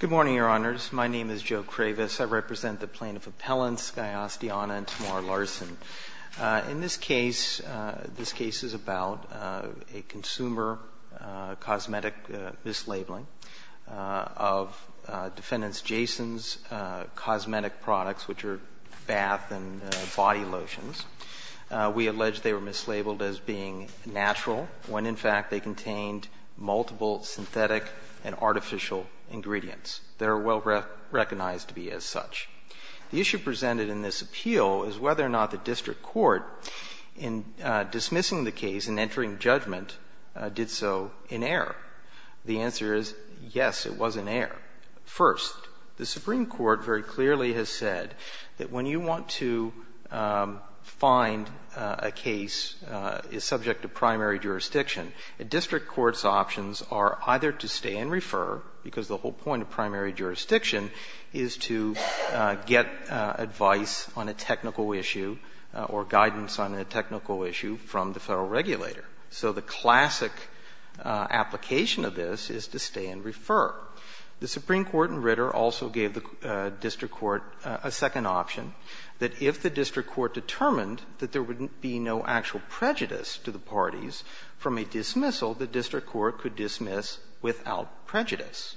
Good morning, Your Honors. My name is Joe Kravis. I represent the Plaintiff Appellants Skye Astiana and Tamar Larson. In this case, this case is about a consumer cosmetic mislabeling of defendants Jason's cosmetic products, which are bath and body lotions. We allege they were mislabeled as being natural when in fact they contained multiple synthetic and artificial ingredients. They are well recognized to be as such. The issue presented in this appeal is whether or not the district court, in dismissing the case and entering judgment, did so in error. The answer is, yes, it was in error. First, the Supreme Court very clearly has said that when you want to find a case is subject to primary jurisdiction, a district court's options are either to stay and refer, because the whole point of primary jurisdiction is to get advice on a technical issue or guidance on a technical issue from the Federal regulator. So the classic application of this is to stay and refer. The Supreme Court in Ritter also gave the district court a second option, that if the district court determined that there would be no actual prejudice to the parties from a dismissal, the district court could dismiss without prejudice.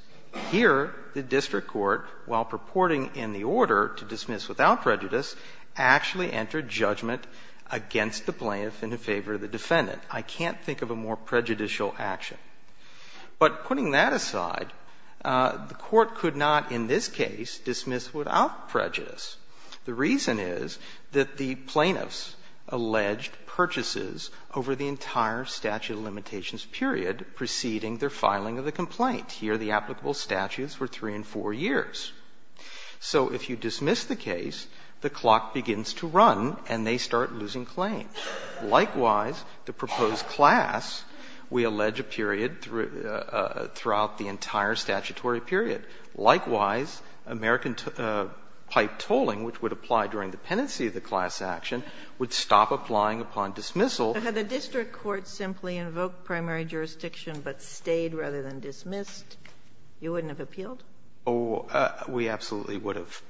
Here, the district court, while purporting in the order to dismiss without prejudice, actually entered judgment against the plaintiff in favor of the defendant. I can't think of a more prejudicial action. But putting that aside, the court could not in this case dismiss without prejudice. The reason is that the plaintiffs alleged purchases over the entire statute of limitations period preceding their filing of the complaint. Here, the applicable statutes were 3 and 4 years. So if you dismiss the case, the clock begins to run and they start losing claims. Likewise, the proposed class, we allege a period throughout the entire statutory period. Likewise, American pipe tolling, which would apply during the penancy of the class action, would stop applying upon dismissal. And had the district court simply invoked primary jurisdiction but stayed rather than dismissed, you wouldn't have appealed? Oh, we absolutely would have.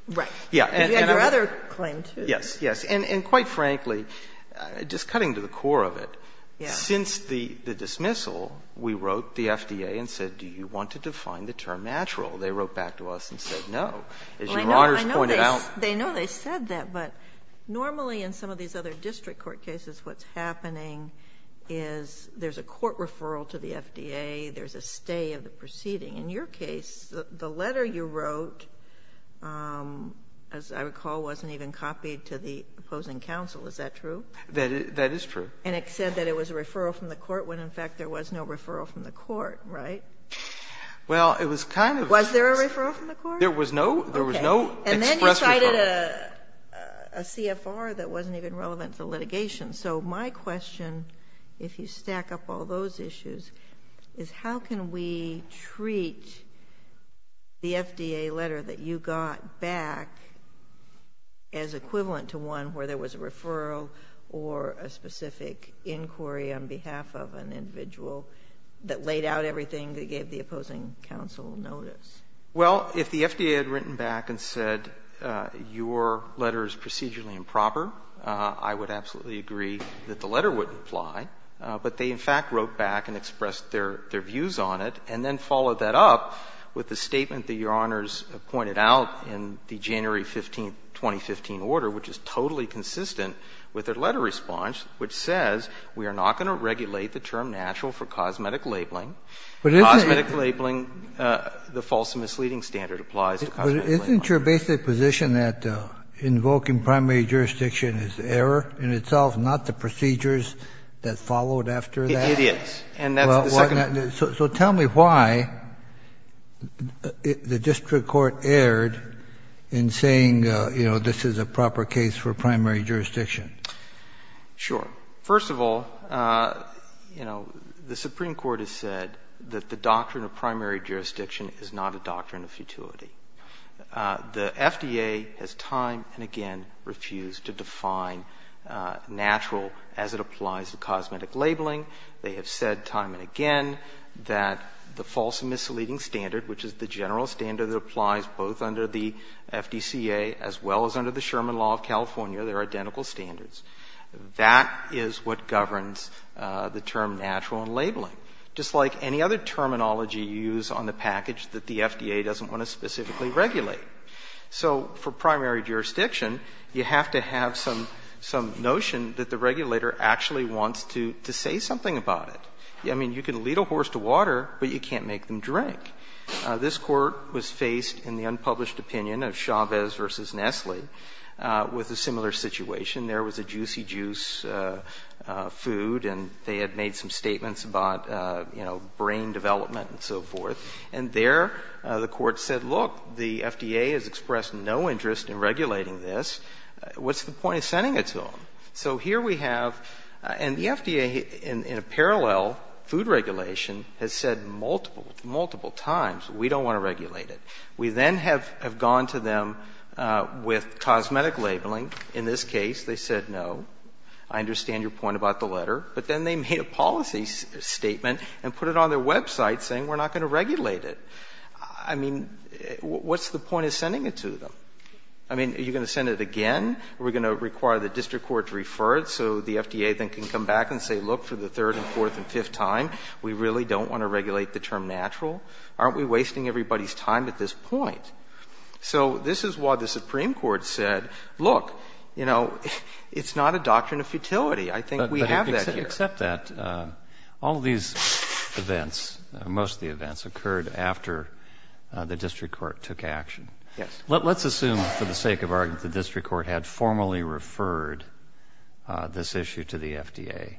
Yeah. And I'm not going to do that. You had your other claim, too. Yes. Yes. And quite frankly, just cutting to the core of it, since the dismissal, we wrote the FDA and said, do you want to define the term natural? They wrote back to us and said no. As Your Honors pointed out they know they said that, but normally in some of these other district court cases what's happening is there's a court referral to the FDA, there's a stay of the proceeding. In your case, the letter you wrote, as I recall, wasn't even copied to the opposing counsel. Is that true? That is true. And it said that it was a referral from the court when, in fact, there was no referral from the court, right? Well, it was kind of the case. Was there a referral from the court? There was no. There was no express referral. Okay. And then you cited a CFR that wasn't even relevant to the litigation. So my question, if you stack up all those issues, is how can we treat the FDA letter that you got back as equivalent to one where there was a referral or a specific inquiry on behalf of an individual that laid out everything that gave the opposing counsel notice? Well, if the FDA had written back and said your letter is procedurally improper, I would absolutely agree that the letter would apply. But they, in fact, wrote back and expressed their views on it, and then followed that up with the statement that Your Honors pointed out in the January 15th, 2015 order, which is totally consistent with their letter response, which says we are not going to regulate the term natural for cosmetic labeling. Cosmetic labeling, the false and misleading standard applies to cosmetic labeling. But isn't your basic position that invoking primary jurisdiction is error in itself, not the procedures that followed after that? It is. And that's the second point. So tell me why the district court erred in saying, you know, this is a proper case for primary jurisdiction. Sure. First of all, you know, the Supreme Court has said that the doctrine of primary jurisdiction is not a doctrine of futility. The FDA has time and again refused to define natural as it applies to cosmetic labeling. They have said time and again that the false and misleading standard, which is the general standard that applies both under the FDCA as well as under the Sherman law of California, they're identical standards, that is what governs the term natural in labeling. Just like any other terminology you use on the package that the FDA doesn't want to specifically regulate. So for primary jurisdiction, you have to have some notion that the regulator actually wants to say something about it. I mean, you can lead a horse to water, but you can't make them drink. This Court was faced in the unpublished opinion of Chavez v. Nestle with a similar situation. There was a Juicy Juice food, and they had made some statements about, you know, brain development and so forth. And there the Court said, look, the FDA has expressed no interest in regulating this. What's the point of sending it to them? So here we have, and the FDA in a parallel food regulation has said multiple, multiple times, we don't want to regulate it. We then have gone to them with cosmetic labeling. In this case, they said, no, I understand your point about the letter. But then they made a policy statement and put it on their website saying, we're not going to regulate it. I mean, what's the point of sending it to them? I mean, are you going to send it again? Are we going to require the district court to refer it so the FDA then can come back and say, look, for the third and fourth and fifth time, we really don't want to regulate the term natural? Aren't we wasting everybody's time at this point? So this is why the Supreme Court said, look, you know, it's not a doctrine of futility. I think we have that here. But except that, all of these events, most of the events, occurred after the district court took action. Yes. Let's assume, for the sake of argument, the district court had formally referred this issue to the FDA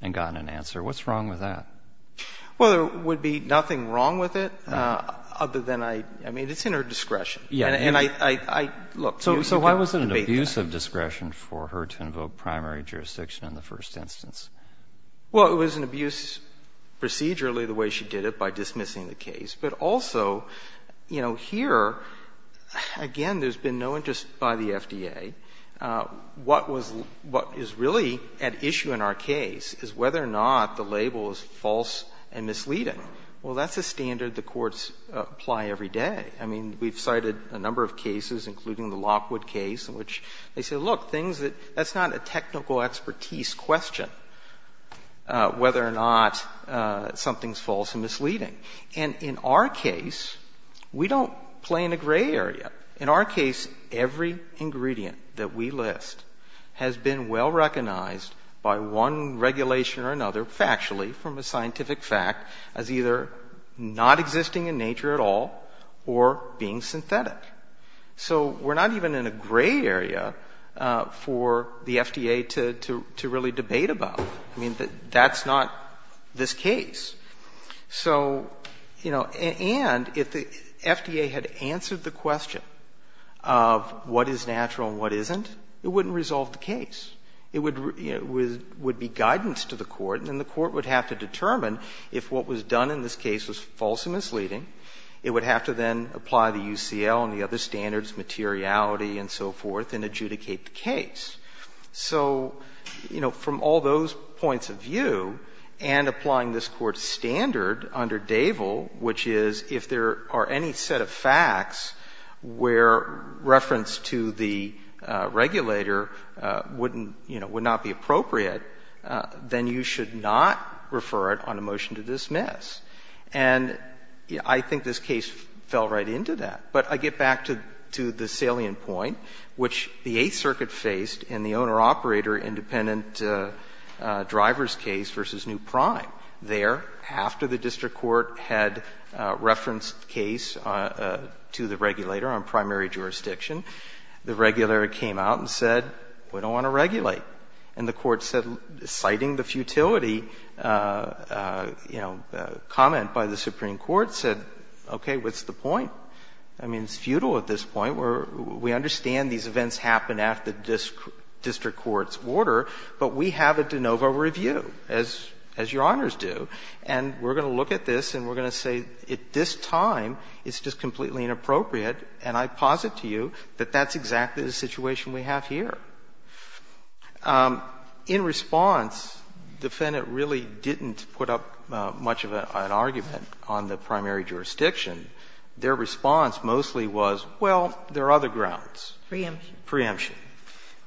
and gotten an answer. What's wrong with that? Well, there would be nothing wrong with it, other than I mean, it's in her discretion. And I, look, so you can debate that. So why was it an abuse of discretion for her to invoke primary jurisdiction in the first instance? Well, it was an abuse procedurally, the way she did it, by dismissing the case. But also, you know, here, again, there's been no interest by the FDA. What was — what is really at issue in our case is whether or not the label is false and misleading. Well, that's a standard the courts apply every day. I mean, we've cited a number of cases, including the Lockwood case, in which they say, look, things that — that's not a technical expertise question, whether or not something's false and misleading. And in our case, we don't play in a gray area. In our case, every ingredient that we list has been well recognized by one regulation or another, factually, from a scientific fact, as either not existing in nature at all or being synthetic. So we're not even in a gray area for the FDA to really debate about. I mean, that's not this case. So, you know, and if the FDA had answered the question of what is natural and what isn't, it wouldn't resolve the case. It would be guidance to the court, and then the court would have to determine if what was done in this case was false and misleading. It would have to then apply the UCL and the other standards, materiality and so forth, and adjudicate the case. So, you know, from all those points of view, and applying this Court's standard under Davel, which is if there are any set of facts where reference to the regulator wouldn't — you know, would not be appropriate, then you should not refer it on a motion to dismiss. And I think this case fell right into that. But I get back to the salient point, which the Eighth Circuit faced in the owner-operator independent driver's case v. New Prime. There, after the district court had referenced the case to the regulator on primary jurisdiction, the regulator came out and said, we don't want to regulate. And the court said, citing the futility, you know, comment by the Supreme Court, said, okay, what's the point? I mean, it's futile at this point. We understand these events happen after the district court's order, but we have a de novo review, as Your Honors do. And we're going to look at this and we're going to say, at this time, it's just completely inappropriate. And I posit to you that that's exactly the situation we have here. In response, the defendant really didn't put up much of an argument on the primary jurisdiction. Their response mostly was, well, there are other grounds. Sotomayor, preemption. Preemption.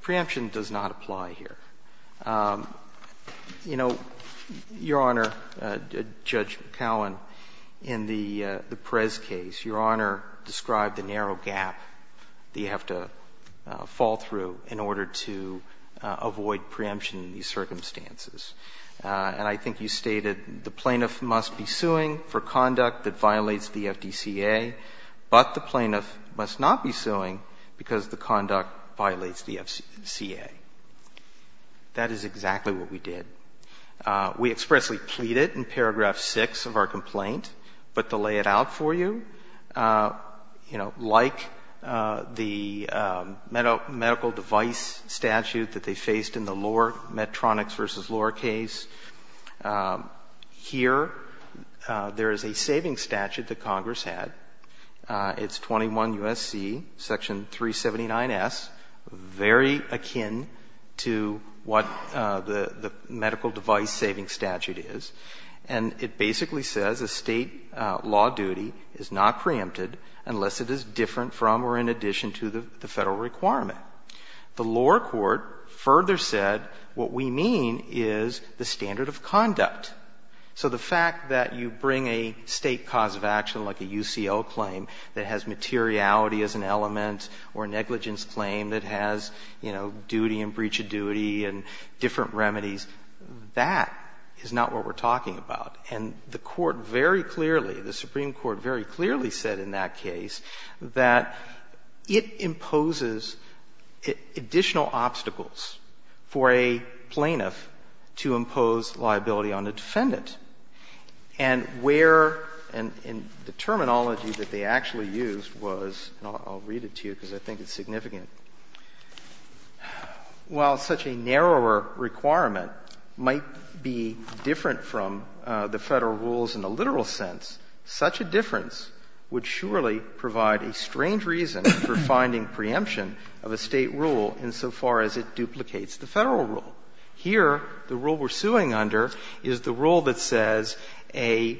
Preemption does not apply here. You know, Your Honor, Judge Cowan, in the Perez case, Your Honor described the narrow gap that you have to fall through in order to avoid preemption in these circumstances. And I think you stated the plaintiff must be suing for conduct that violates the FDCA, but the plaintiff must not be suing because the conduct violates the FCA. That is exactly what we did. We expressly pleaded in paragraph 6 of our complaint, but to lay it out for you, you know, like the medical device statute that they faced in the lower Medtronics v. Lohr case, here there is a saving statute that Congress had. It's 21 U.S.C., section 379S, very akin to what the medical device saving statute is, and it basically says a State law duty is not preempted unless it is different from or in addition to the Federal requirement. The lower court further said what we mean is the standard of conduct. So the fact that you bring a State cause of action, like a UCO claim that has materiality as an element or negligence claim that has, you know, duty and breach of duty and different remedies, that is not what we're talking about. And the Court very clearly, the Supreme Court very clearly said in that case that it imposes additional obstacles for a plaintiff to impose liability on a defendant. And where, and the terminology that they actually used was, and I'll read it to you because I think it's significant, while such a narrower requirement might be different from the Federal rules in the literal sense, such a difference would surely provide a strange reason for finding preemption of a State rule insofar as it duplicates the Federal rule. Here, the rule we're suing under is the rule that says a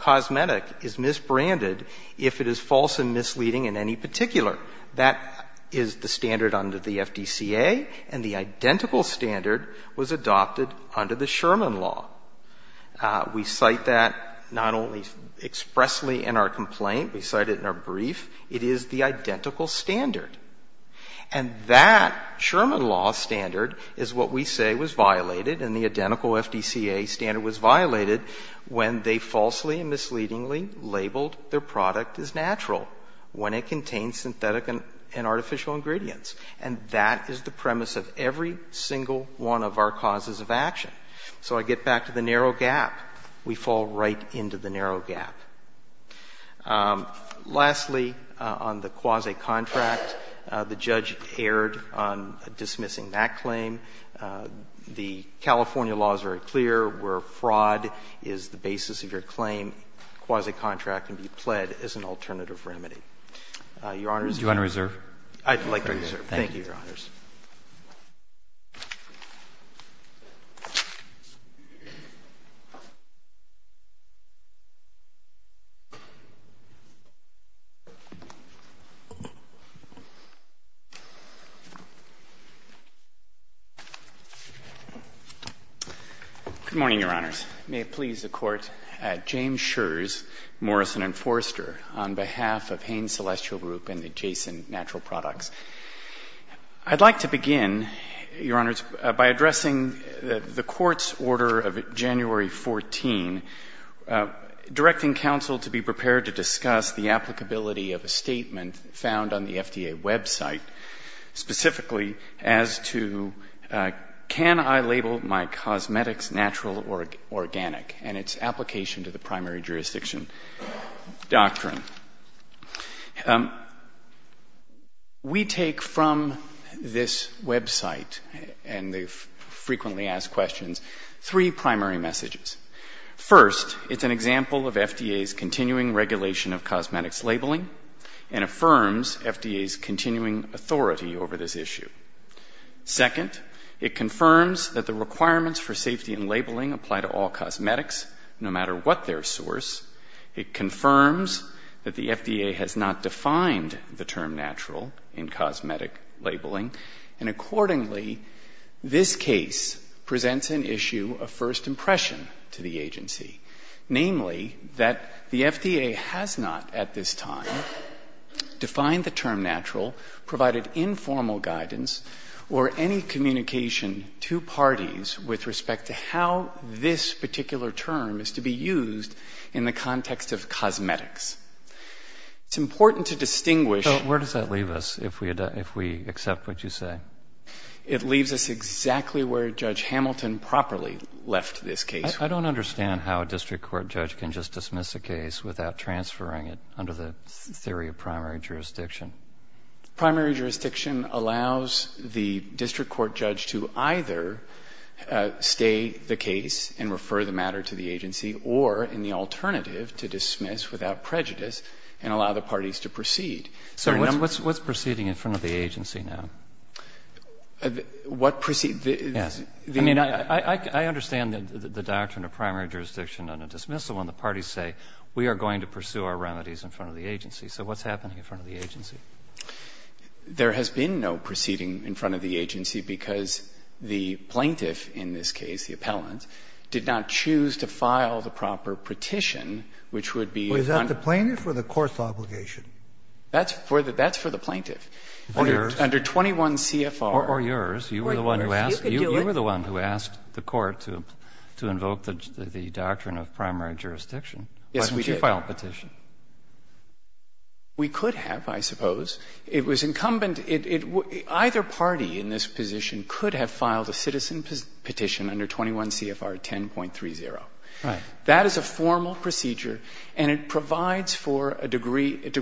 cosmetic is misbranded if it is false and misleading in any particular. That is the standard under the FDCA, and the identical standard was adopted under the Sherman law. We cite that not only expressly in our complaint, we cite it in our brief, it is the identical standard. And that Sherman law standard is what we say was violated, and the identical FDCA standard was violated when they falsely and misleadingly labeled their product as natural, when it contains synthetic and artificial ingredients. And that is the premise of every single one of our causes of action. So I get back to the narrow gap. We fall right into the narrow gap. Lastly, on the quasi-contract, the judge erred on dismissing that claim. The California law is very clear where fraud is the basis of your claim. Quasi-contract can be pled as an alternative remedy. Your Honors. Roberts. Roberts. I'd like to reserve. Thank you, Your Honors. Good morning, Your Honors. May it please the Court. James Schurz, Morrison & Forster, on behalf of Haines Celestial Group and the Jason Natural Products. I'd like to begin, Your Honors, by addressing the Court's order of January 14, directing counsel to be prepared to discuss the applicability of a statement found on the FDA website, specifically as to can I label my cosmetics natural or organic, and its application to the primary jurisdiction doctrine. We take from this website and the frequently asked questions three primary messages. First, it's an example of FDA's continuing regulation of cosmetics labeling and affirms FDA's continuing authority over this issue. Second, it confirms that the requirements for safety in labeling apply to all cosmetics no matter what their source. It confirms that the FDA has not defined the term natural in cosmetic labeling. And accordingly, this case presents an issue of first impression to the agency, namely that the FDA has not at this time defined the term natural, provided informal guidance or any communication to parties with respect to how this particular term is to be used in the context of cosmetics. It's important to distinguish... So where does that leave us if we accept what you say? It leaves us exactly where Judge Hamilton properly left this case. I don't understand how a district court judge can just dismiss a case without transferring it under the theory of primary jurisdiction. Primary jurisdiction allows the district court judge to either stay the case and refer the alternative to dismiss without prejudice and allow the parties to proceed. So what's proceeding in front of the agency now? What proceed? Yes. I mean, I understand the doctrine of primary jurisdiction under dismissal when the parties say we are going to pursue our remedies in front of the agency. So what's happening in front of the agency? There has been no proceeding in front of the agency because the plaintiff in this case, the appellant, did not choose to file the proper petition which would be... Well, is that the plaintiff or the court's obligation? That's for the plaintiff. Or yours. Under 21 CFR. Or yours. You were the one who asked the court to invoke the doctrine of primary jurisdiction. Yes, we did. Why didn't you file a petition? We could have, I suppose. It was incumbent. And either party in this position could have filed a citizen petition under 21 CFR 10.30. Right. That is a formal procedure, and it provides for a degree, it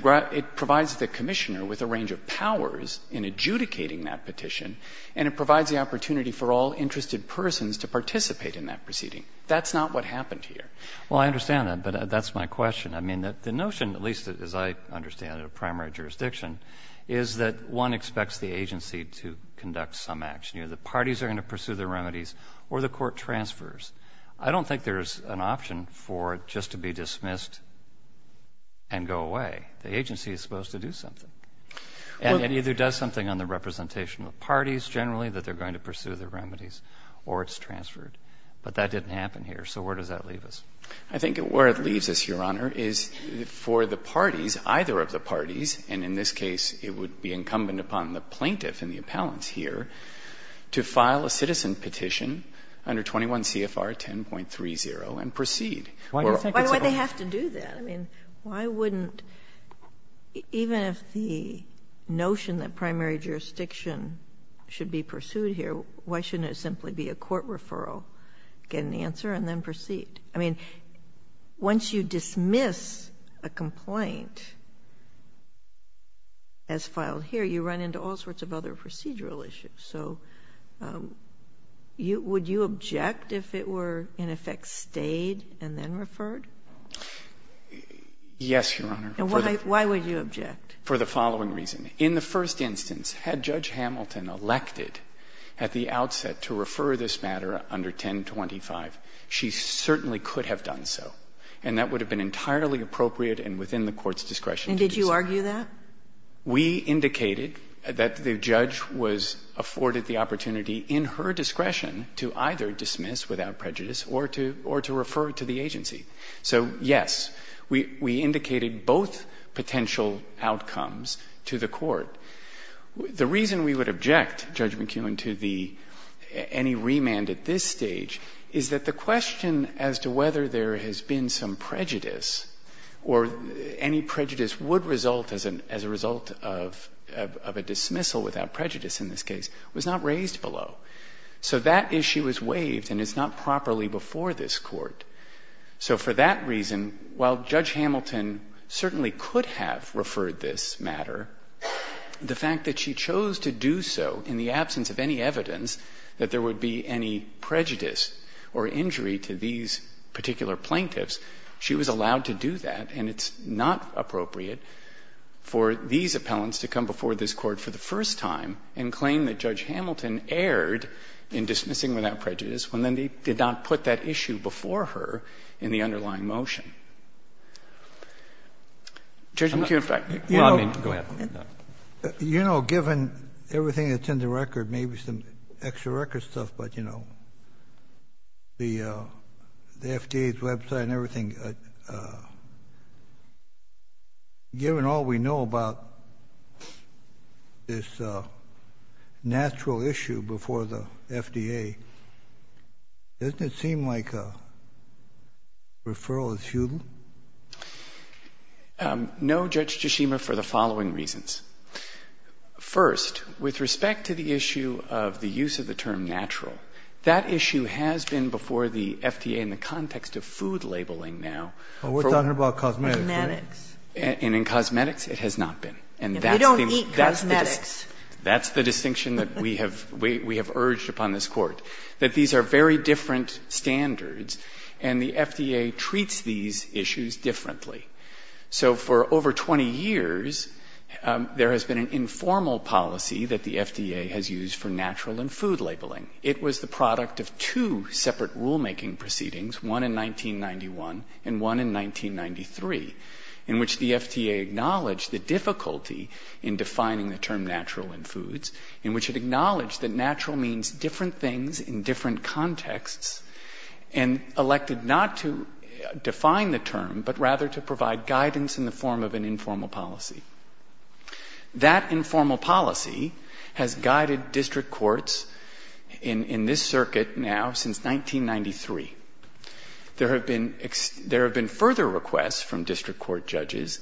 provides the Commissioner with a range of powers in adjudicating that petition, and it provides the opportunity for all interested persons to participate in that proceeding. That's not what happened here. Well, I understand that, but that's my question. I mean, the notion, at least as I understand it, of primary jurisdiction is that one expects the agency to conduct some action. You know, the parties are going to pursue the remedies or the court transfers. I don't think there's an option for it just to be dismissed and go away. The agency is supposed to do something. And it either does something on the representation of the parties generally, that they're going to pursue the remedies, or it's transferred. But that didn't happen here. So where does that leave us? I think where it leaves us, Your Honor, is for the parties, either of the parties and in this case it would be incumbent upon the plaintiff and the appellants here, to file a citizen petition under 21 CFR 10.30 and proceed. Why do they have to do that? I mean, why wouldn't, even if the notion that primary jurisdiction should be pursued here, why shouldn't it simply be a court referral, get an answer and then proceed? I mean, once you dismiss a complaint as filed here, you run into all sorts of other procedural issues. So would you object if it were, in effect, stayed and then referred? Yes, Your Honor. And why would you object? For the following reason. In the first instance, had Judge Hamilton elected at the outset to refer this matter under 1025, she certainly could have done so. And that would have been entirely appropriate and within the Court's discretion to do so. And did you argue that? We indicated that the judge was afforded the opportunity in her discretion to either dismiss without prejudice or to refer to the agency. So, yes, we indicated both potential outcomes to the Court. The reason we would object, Judge McKeown, to the any remand at this stage is that the question as to whether there has been some prejudice or any prejudice would result as a result of a dismissal without prejudice in this case was not raised below. So that issue is waived and is not properly before this Court. So for that reason, while Judge Hamilton certainly could have referred this matter, the fact that she chose to do so in the absence of any evidence that there would be any prejudice or injury to these particular plaintiffs, she was allowed to do that, and it's not appropriate for these appellants to come before this Court for the first time and claim that Judge Hamilton erred in dismissing without prejudice when they did not put that issue before her in the underlying motion. Judge McKeown, if I may. Go ahead. You know, given everything that's in the record, maybe some extra record stuff, but, you know, the FDA's website and everything, given all we know about this natural issue before the FDA, doesn't it seem like a referral is futile? No, Judge Tshishima, for the following reasons. First, with respect to the issue of the use of the term natural, that issue has been before the FDA in the context of food labeling now. But we're talking about cosmetics here. And in cosmetics, it has not been. And that's the distinction. If we don't eat cosmetics. That's the distinction that we have urged upon this Court, that these are very different standards, and the FDA treats these issues differently. So for over 20 years, there has been an informal policy that the FDA has used for natural and food labeling. It was the product of two separate rulemaking proceedings, one in 1991 and one in 1993, in which the FDA acknowledged the difficulty in defining the term natural in foods, in which it acknowledged that natural means different things in different contexts, and elected not to define the term, but rather to provide guidance in the form of an informal policy. That informal policy has guided district courts in this circuit now since 1993. There have been further requests from district court judges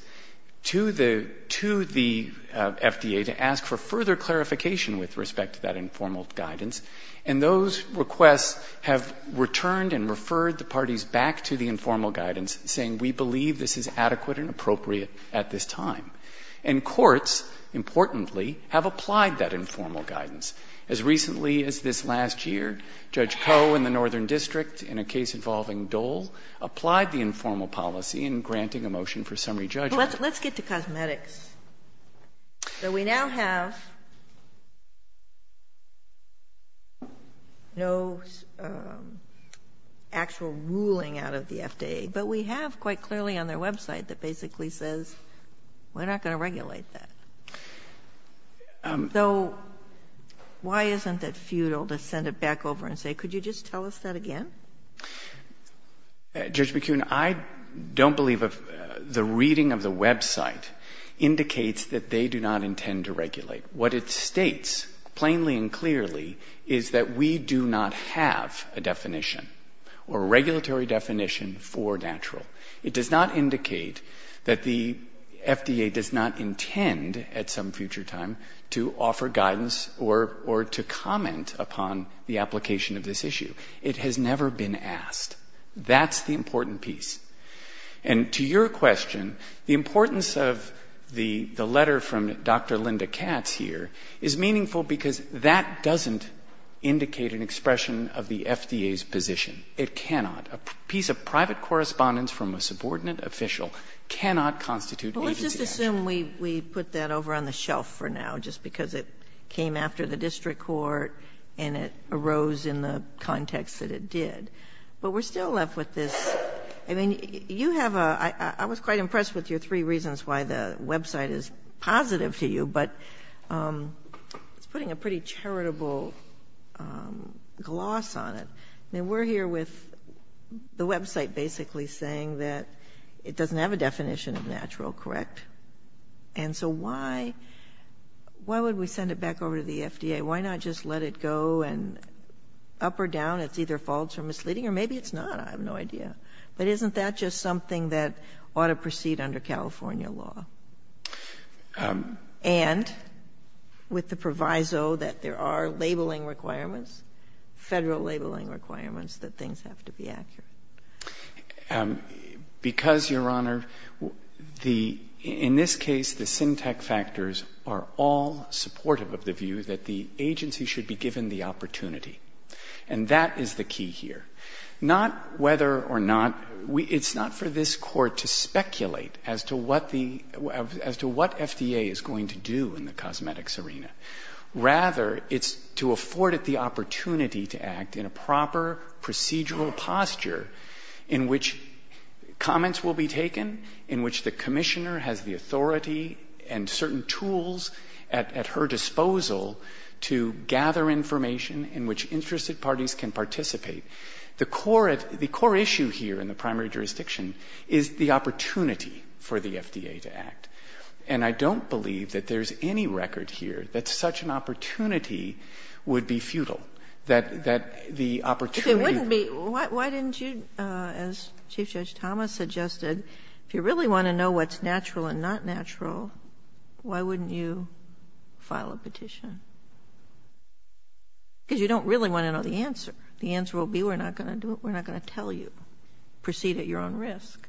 to the FDA to ask for further clarification with respect to that informal guidance. And those requests have returned and referred the parties back to the informal guidance, saying, we believe this is adequate and appropriate at this time. And courts, importantly, have applied that informal guidance. As recently as this last year, Judge Koh in the Northern District, in a case involving Dole, applied the informal policy in granting a motion for summary judgment. Let's get to cosmetics. So we now have no actual ruling out of the FDA, but we have quite clearly on their website that basically says, we're not going to regulate that. So why isn't it futile to send it back over and say, could you just tell us that again? Judge McKeon, I don't believe the reading of the website indicates that they do not intend to regulate. What it states, plainly and clearly, is that we do not have a definition or a regulatory definition for natural. It does not indicate that the FDA does not intend at some future time to offer guidance or to comment upon the application of this issue. It has never been asked. That's the important piece. And to your question, the importance of the letter from Dr. Linda Katz here is meaningful because that doesn't indicate an expression of the FDA's position. It cannot. A piece of private correspondence from a subordinate official cannot constitute Sotomayor Well, let's just assume we put that over on the shelf for now, just because it came after the district court and it arose in the context that it did. But we're still left with this. I mean, you have a – I was quite impressed with your three reasons why the website is positive to you, but it's putting a pretty charitable gloss on it. I mean, we're here with the website basically saying that it doesn't have a definition of natural, correct? And so why – why would we send it back over to the FDA? Why not just let it go and up or down, it's either false or misleading, or maybe it's not, I have no idea. But isn't that just something that ought to proceed under California law? And with the proviso that there are labeling requirements, Federal labeling requirements, that things have to be accurate. Because, Your Honor, the – in this case, the Syntec factors are all supportive of the view that the agency should be given the opportunity. And that is the key here. Not whether or not – it's not for this Court to speculate as to what the – as to what FDA is going to do in the cosmetics arena. Rather, it's to afford it the opportunity to act in a proper procedural posture in which comments will be taken, in which the commissioner has the authority and certain tools at her disposal to gather information in which interested parties can participate. The core issue here in the primary jurisdiction is the opportunity for the FDA to act. And I don't believe that there's any record here that such an opportunity would be futile, that the opportunity – Ginsburg. If it wouldn't be, why didn't you, as Chief Judge Thomas suggested, if you really want to know what's natural and not natural, why wouldn't you file a petition? Because you don't really want to know the answer. The answer will be, we're not going to do it, we're not going to tell you. Proceed at your own risk.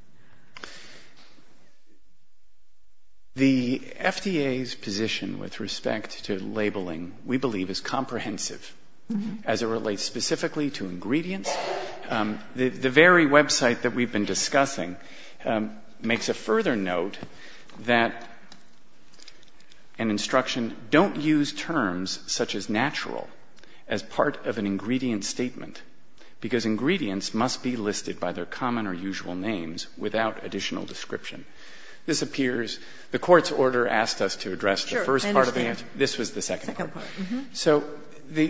The FDA's position with respect to labeling, we believe, is comprehensive, as it relates specifically to ingredients. The very website that we've been discussing makes a further note that an instruction, don't use terms such as natural as part of an ingredient statement, because ingredients must be listed by their common or usual names without additional description. This appears – the Court's order asked us to address the first part of the answer. This was the second part. So the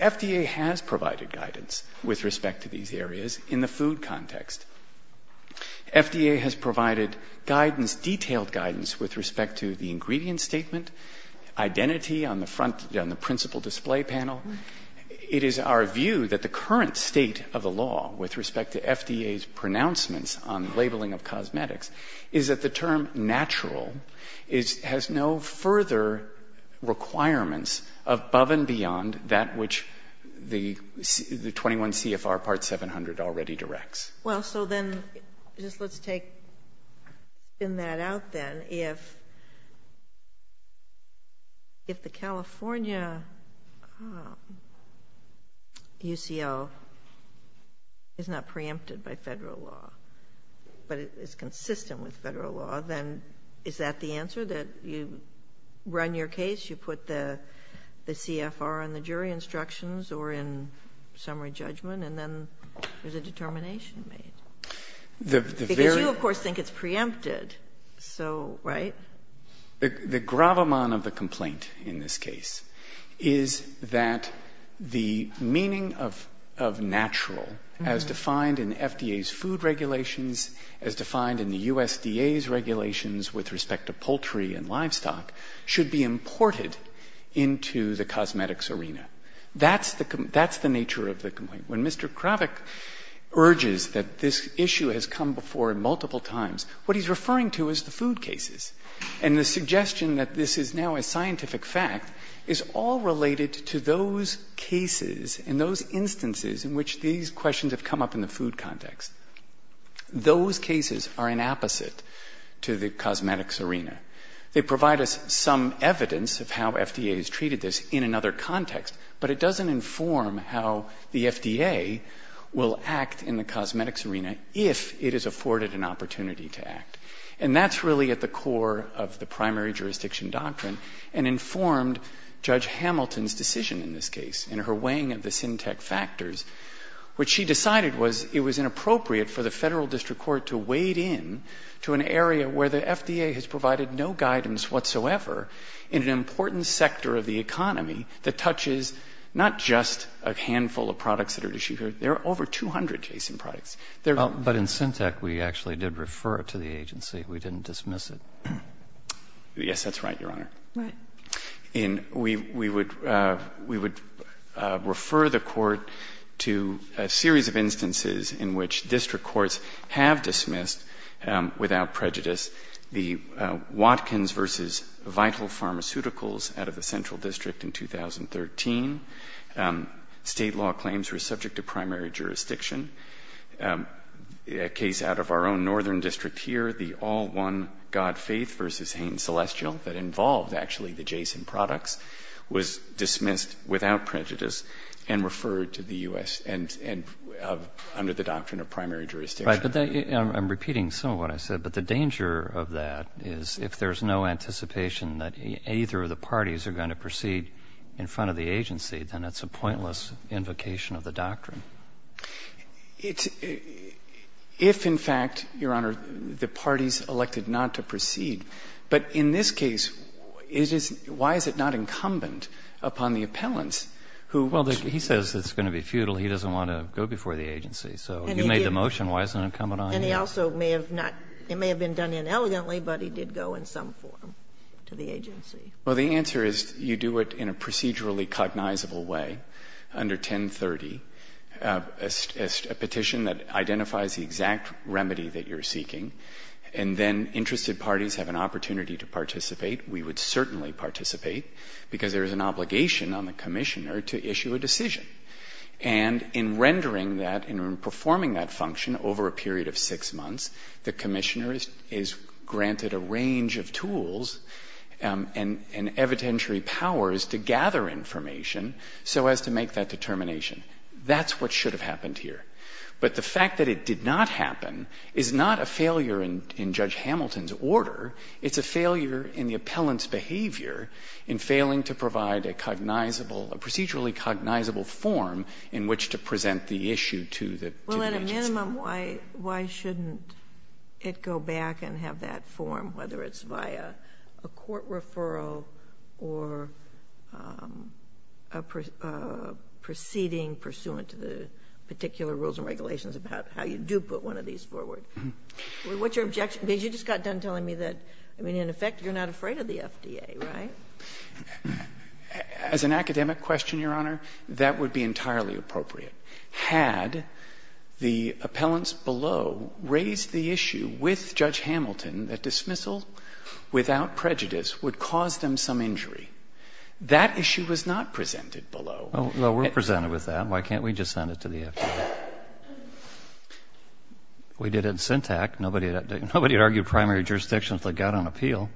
FDA has provided guidance with respect to these areas in the food context. FDA has provided guidance, detailed guidance, with respect to the ingredient statement, identity on the front – on the principal display panel. It is our view that the current state of the law with respect to FDA's pronouncements on labeling of cosmetics is that the term natural has no further requirements above and beyond that which the 21 CFR Part 700 already directs. Well, so then, just let's take – spin that out, then. If the California UCL is not preempted by Federal law, but it's consistent with Federal law, then is that the answer, that you run your case, you put the CFR on the jury instructions or in summary judgment, and then there's a determination made? Because you, of course, think it's preempted. So, right? The gravamon of the complaint in this case is that the meaning of natural, as defined in FDA's food regulations, as defined in the USDA's regulations with respect to poultry and livestock, should be imported into the cosmetics arena. That's the nature of the complaint. When Mr. Kravic urges that this issue has come before him multiple times, what he's referring to is the food cases. And the suggestion that this is now a scientific fact is all related to those cases and those instances in which these They provide us some evidence of how FDA has treated this in another context, but it doesn't inform how the FDA will act in the cosmetics arena if it is afforded an opportunity to act. And that's really at the core of the primary jurisdiction doctrine and informed Judge Hamilton's decision in this case in her weighing of the items whatsoever in an important sector of the economy that touches not just a handful of products that are issued here. There are over 200 case in products. But in Syntec, we actually did refer it to the agency. We didn't dismiss it. Yes, that's right, Your Honor. Right. And we would refer the Court to a series of instances in which district courts have dismissed without prejudice the Watkins v. Vital Pharmaceuticals out of the central district in 2013. State law claims were subject to primary jurisdiction. A case out of our own northern district here, the All One God Faith v. Hain Celestial that involved actually the Jason products was dismissed without prejudice and referred to the U.S. and under the doctrine of primary jurisdiction. Right. But I'm repeating some of what I said. But the danger of that is if there's no anticipation that either of the parties are going to proceed in front of the agency, then it's a pointless invocation of the doctrine. It's — if, in fact, Your Honor, the parties elected not to proceed. But in this case, it is — why is it not incumbent upon the appellants who — Well, he says it's going to be futile. He doesn't want to go before the agency. And he did. If it's a motion, why isn't it incumbent on him? And he also may have not — it may have been done inelegantly, but he did go in some form to the agency. Well, the answer is you do it in a procedurally cognizable way under 1030, a petition that identifies the exact remedy that you're seeking, and then interested parties have an opportunity to participate. We would certainly participate because there is an obligation on the Commissioner to issue a decision. And in rendering that, in performing that function over a period of six months, the Commissioner is granted a range of tools and evidentiary powers to gather information so as to make that determination. That's what should have happened here. But the fact that it did not happen is not a failure in Judge Hamilton's order. It's a failure in the appellant's behavior in failing to provide a cognizable — a procedurally cognizable form in which to present the issue to the agency. Well, at a minimum, why shouldn't it go back and have that form, whether it's via a court referral or a proceeding pursuant to the particular rules and regulations about how you do put one of these forward? What's your objection? Because you just got done telling me that, I mean, in effect, you're not afraid of the FDA, right? As an academic question, Your Honor, that would be entirely appropriate. Had the appellants below raised the issue with Judge Hamilton that dismissal without prejudice would cause them some injury, that issue was not presented below. Well, we're presented with that. Why can't we just send it to the FDA? We did it in the primary jurisdictions that got on appeal.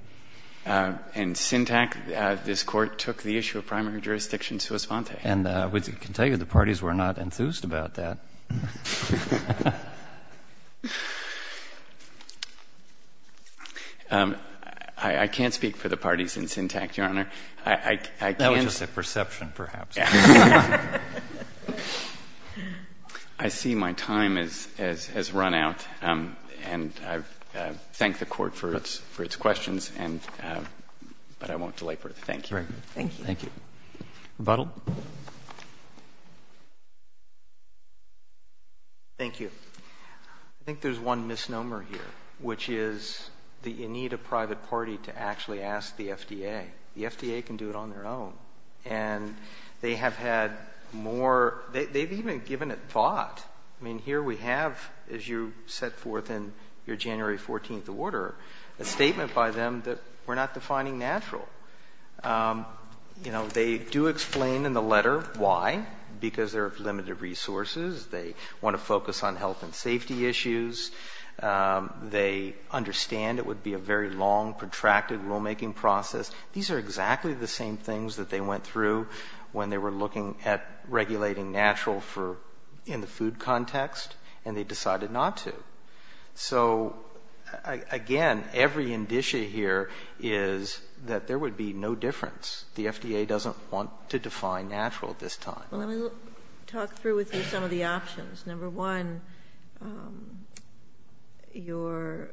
In Syntac, this Court took the issue of primary jurisdictions to a sponte. And I can tell you the parties were not enthused about that. I can't speak for the parties in Syntac, Your Honor. That was just a perception, perhaps. I see my time has run out. And I thank the Court for its questions, but I won't delay further. Thank you. Thank you. Thank you. Rebuttal. Thank you. I think there's one misnomer here, which is the need of private party to actually ask the FDA. The FDA can do it on their own. And they have had more, they've even given it thought. I mean, here we have, as you set forth in your January 14th order, a statement by them that we're not defining natural. You know, they do explain in the letter why, because there are limited resources. They want to focus on health and safety issues. They understand it would be a very long, protracted rulemaking process. These are exactly the same things that they went through when they were looking at regulating natural for the food context, and they decided not to. So again, every indicia here is that there would be no difference. The FDA doesn't want to define natural at this time. Well, let me talk through with you some of the options. Number one, your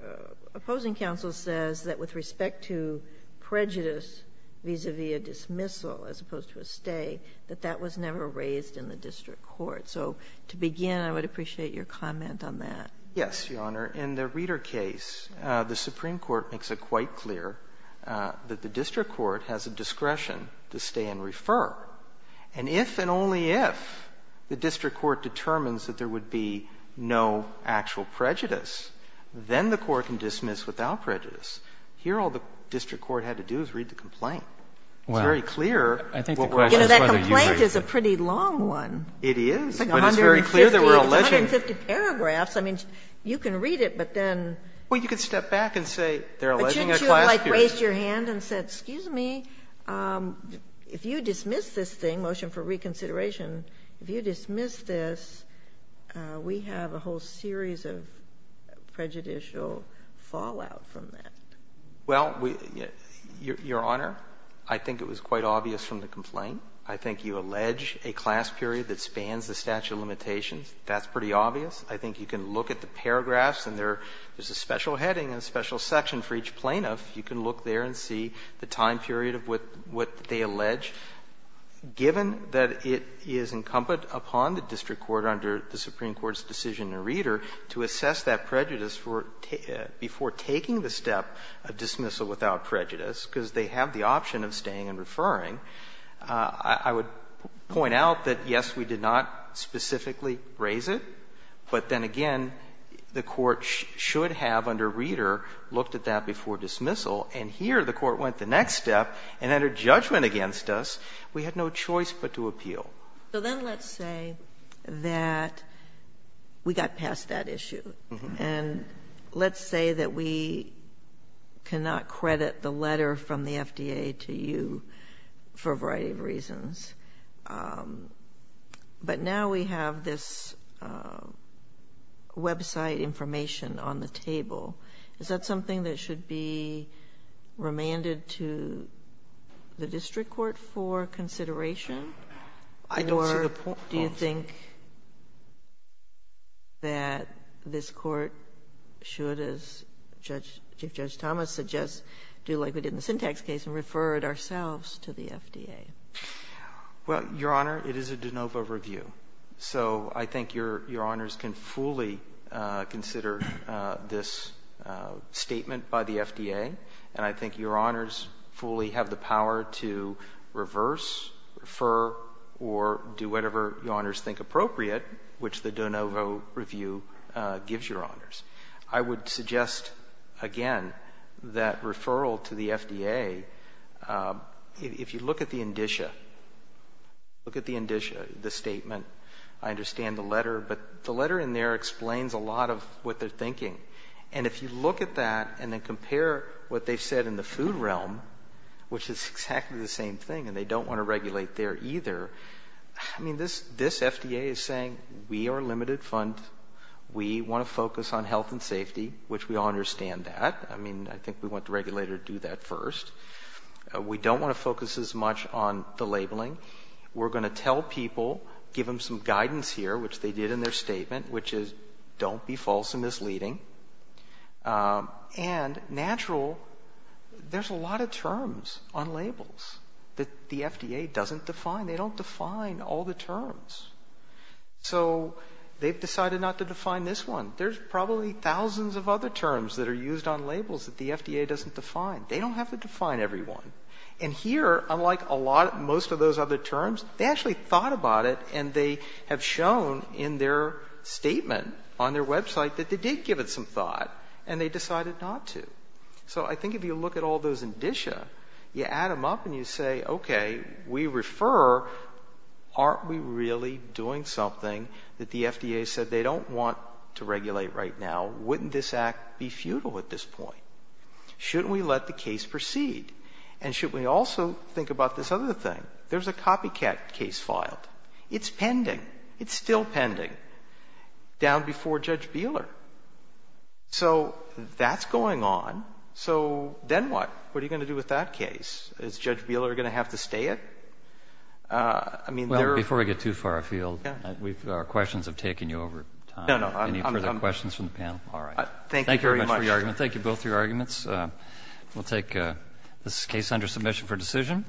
opposing counsel says that with respect to prejudice vis-à-vis a dismissal as opposed to a stay, that that was never raised in the district court. So to begin, I would appreciate your comment on that. Yes, Your Honor. In the Reeder case, the Supreme Court makes it quite clear that the district court has a discretion to stay and refer. And if and only if the district court determines that there would be no actual prejudice, then the court can dismiss without prejudice. Here, all the district court had to do is read the complaint. It's very clear. You know, that complaint is a pretty long one. It is, but it's very clear that we're alleging. It's 150 paragraphs. I mean, you can read it, but then. If you dismissed this thing, motion for reconsideration, if you dismiss this, we have a whole series of prejudicial fallout from that. Well, Your Honor, I think it was quite obvious from the complaint. I think you allege a class period that spans the statute of limitations. That's pretty obvious. I think you can look at the paragraphs, and there's a special heading and a special section for each plaintiff. You can look there and see the time period of what they allege, given that it is incumbent upon the district court under the Supreme Court's decision in Reeder to assess that prejudice before taking the step of dismissal without prejudice, because they have the option of staying and referring. I would point out that, yes, we did not specifically raise it, but then again, the court looked at that before dismissal, and here the court went the next step and entered judgment against us. We had no choice but to appeal. So then let's say that we got past that issue. And let's say that we cannot credit the letter from the FDA to you for a variety of reasons, but now we have this website information on the table. Is that something that should be remanded to the district court for consideration? Or do you think that this Court should, as Judge Thomas suggests, do like we did in the Syntax case and refer it ourselves to the FDA? Well, Your Honor, it is a de novo review. So I think Your Honors can fully consider this statement by the FDA. And I think Your Honors fully have the power to reverse, refer, or do whatever Your Honors think appropriate, which the de novo review gives Your Honors. I would suggest, again, that referral to the FDA, if you look at the indicia, look at it. I understand the letter. But the letter in there explains a lot of what they're thinking. And if you look at that and then compare what they've said in the food realm, which is exactly the same thing, and they don't want to regulate there either, I mean, this FDA is saying, we are a limited fund. We want to focus on health and safety, which we all understand that. I mean, I think we want the regulator to do that first. We don't want to focus as much on the labeling. We're going to tell people, give them some guidance here, which they did in their statement, which is don't be false and misleading. And natural, there's a lot of terms on labels that the FDA doesn't define. They don't define all the terms. So they've decided not to define this one. There's probably thousands of other terms that are used on labels that the FDA doesn't define. They don't have to define every one. And here, unlike most of those other terms, they actually thought about it and they have shown in their statement on their website that they did give it some thought and they decided not to. So I think if you look at all those indicia, you add them up and you say, okay, we refer, aren't we really doing something that the FDA said they don't want to regulate right now? Wouldn't this act be futile at this point? Shouldn't we let the case proceed? And should we also think about this other thing? There's a copycat case filed. It's pending. It's still pending. Down before Judge Bieler. So that's going on. So then what? What are you going to do with that case? Is Judge Bieler going to have to stay it? I mean, there are ‑‑ Well, before we get too far afield, our questions have taken you over time. No, no. Any further questions from the panel? All right. Thank you very much. Thank you very much for your argument. Thank you both for your arguments. We'll take this case under submission for decision.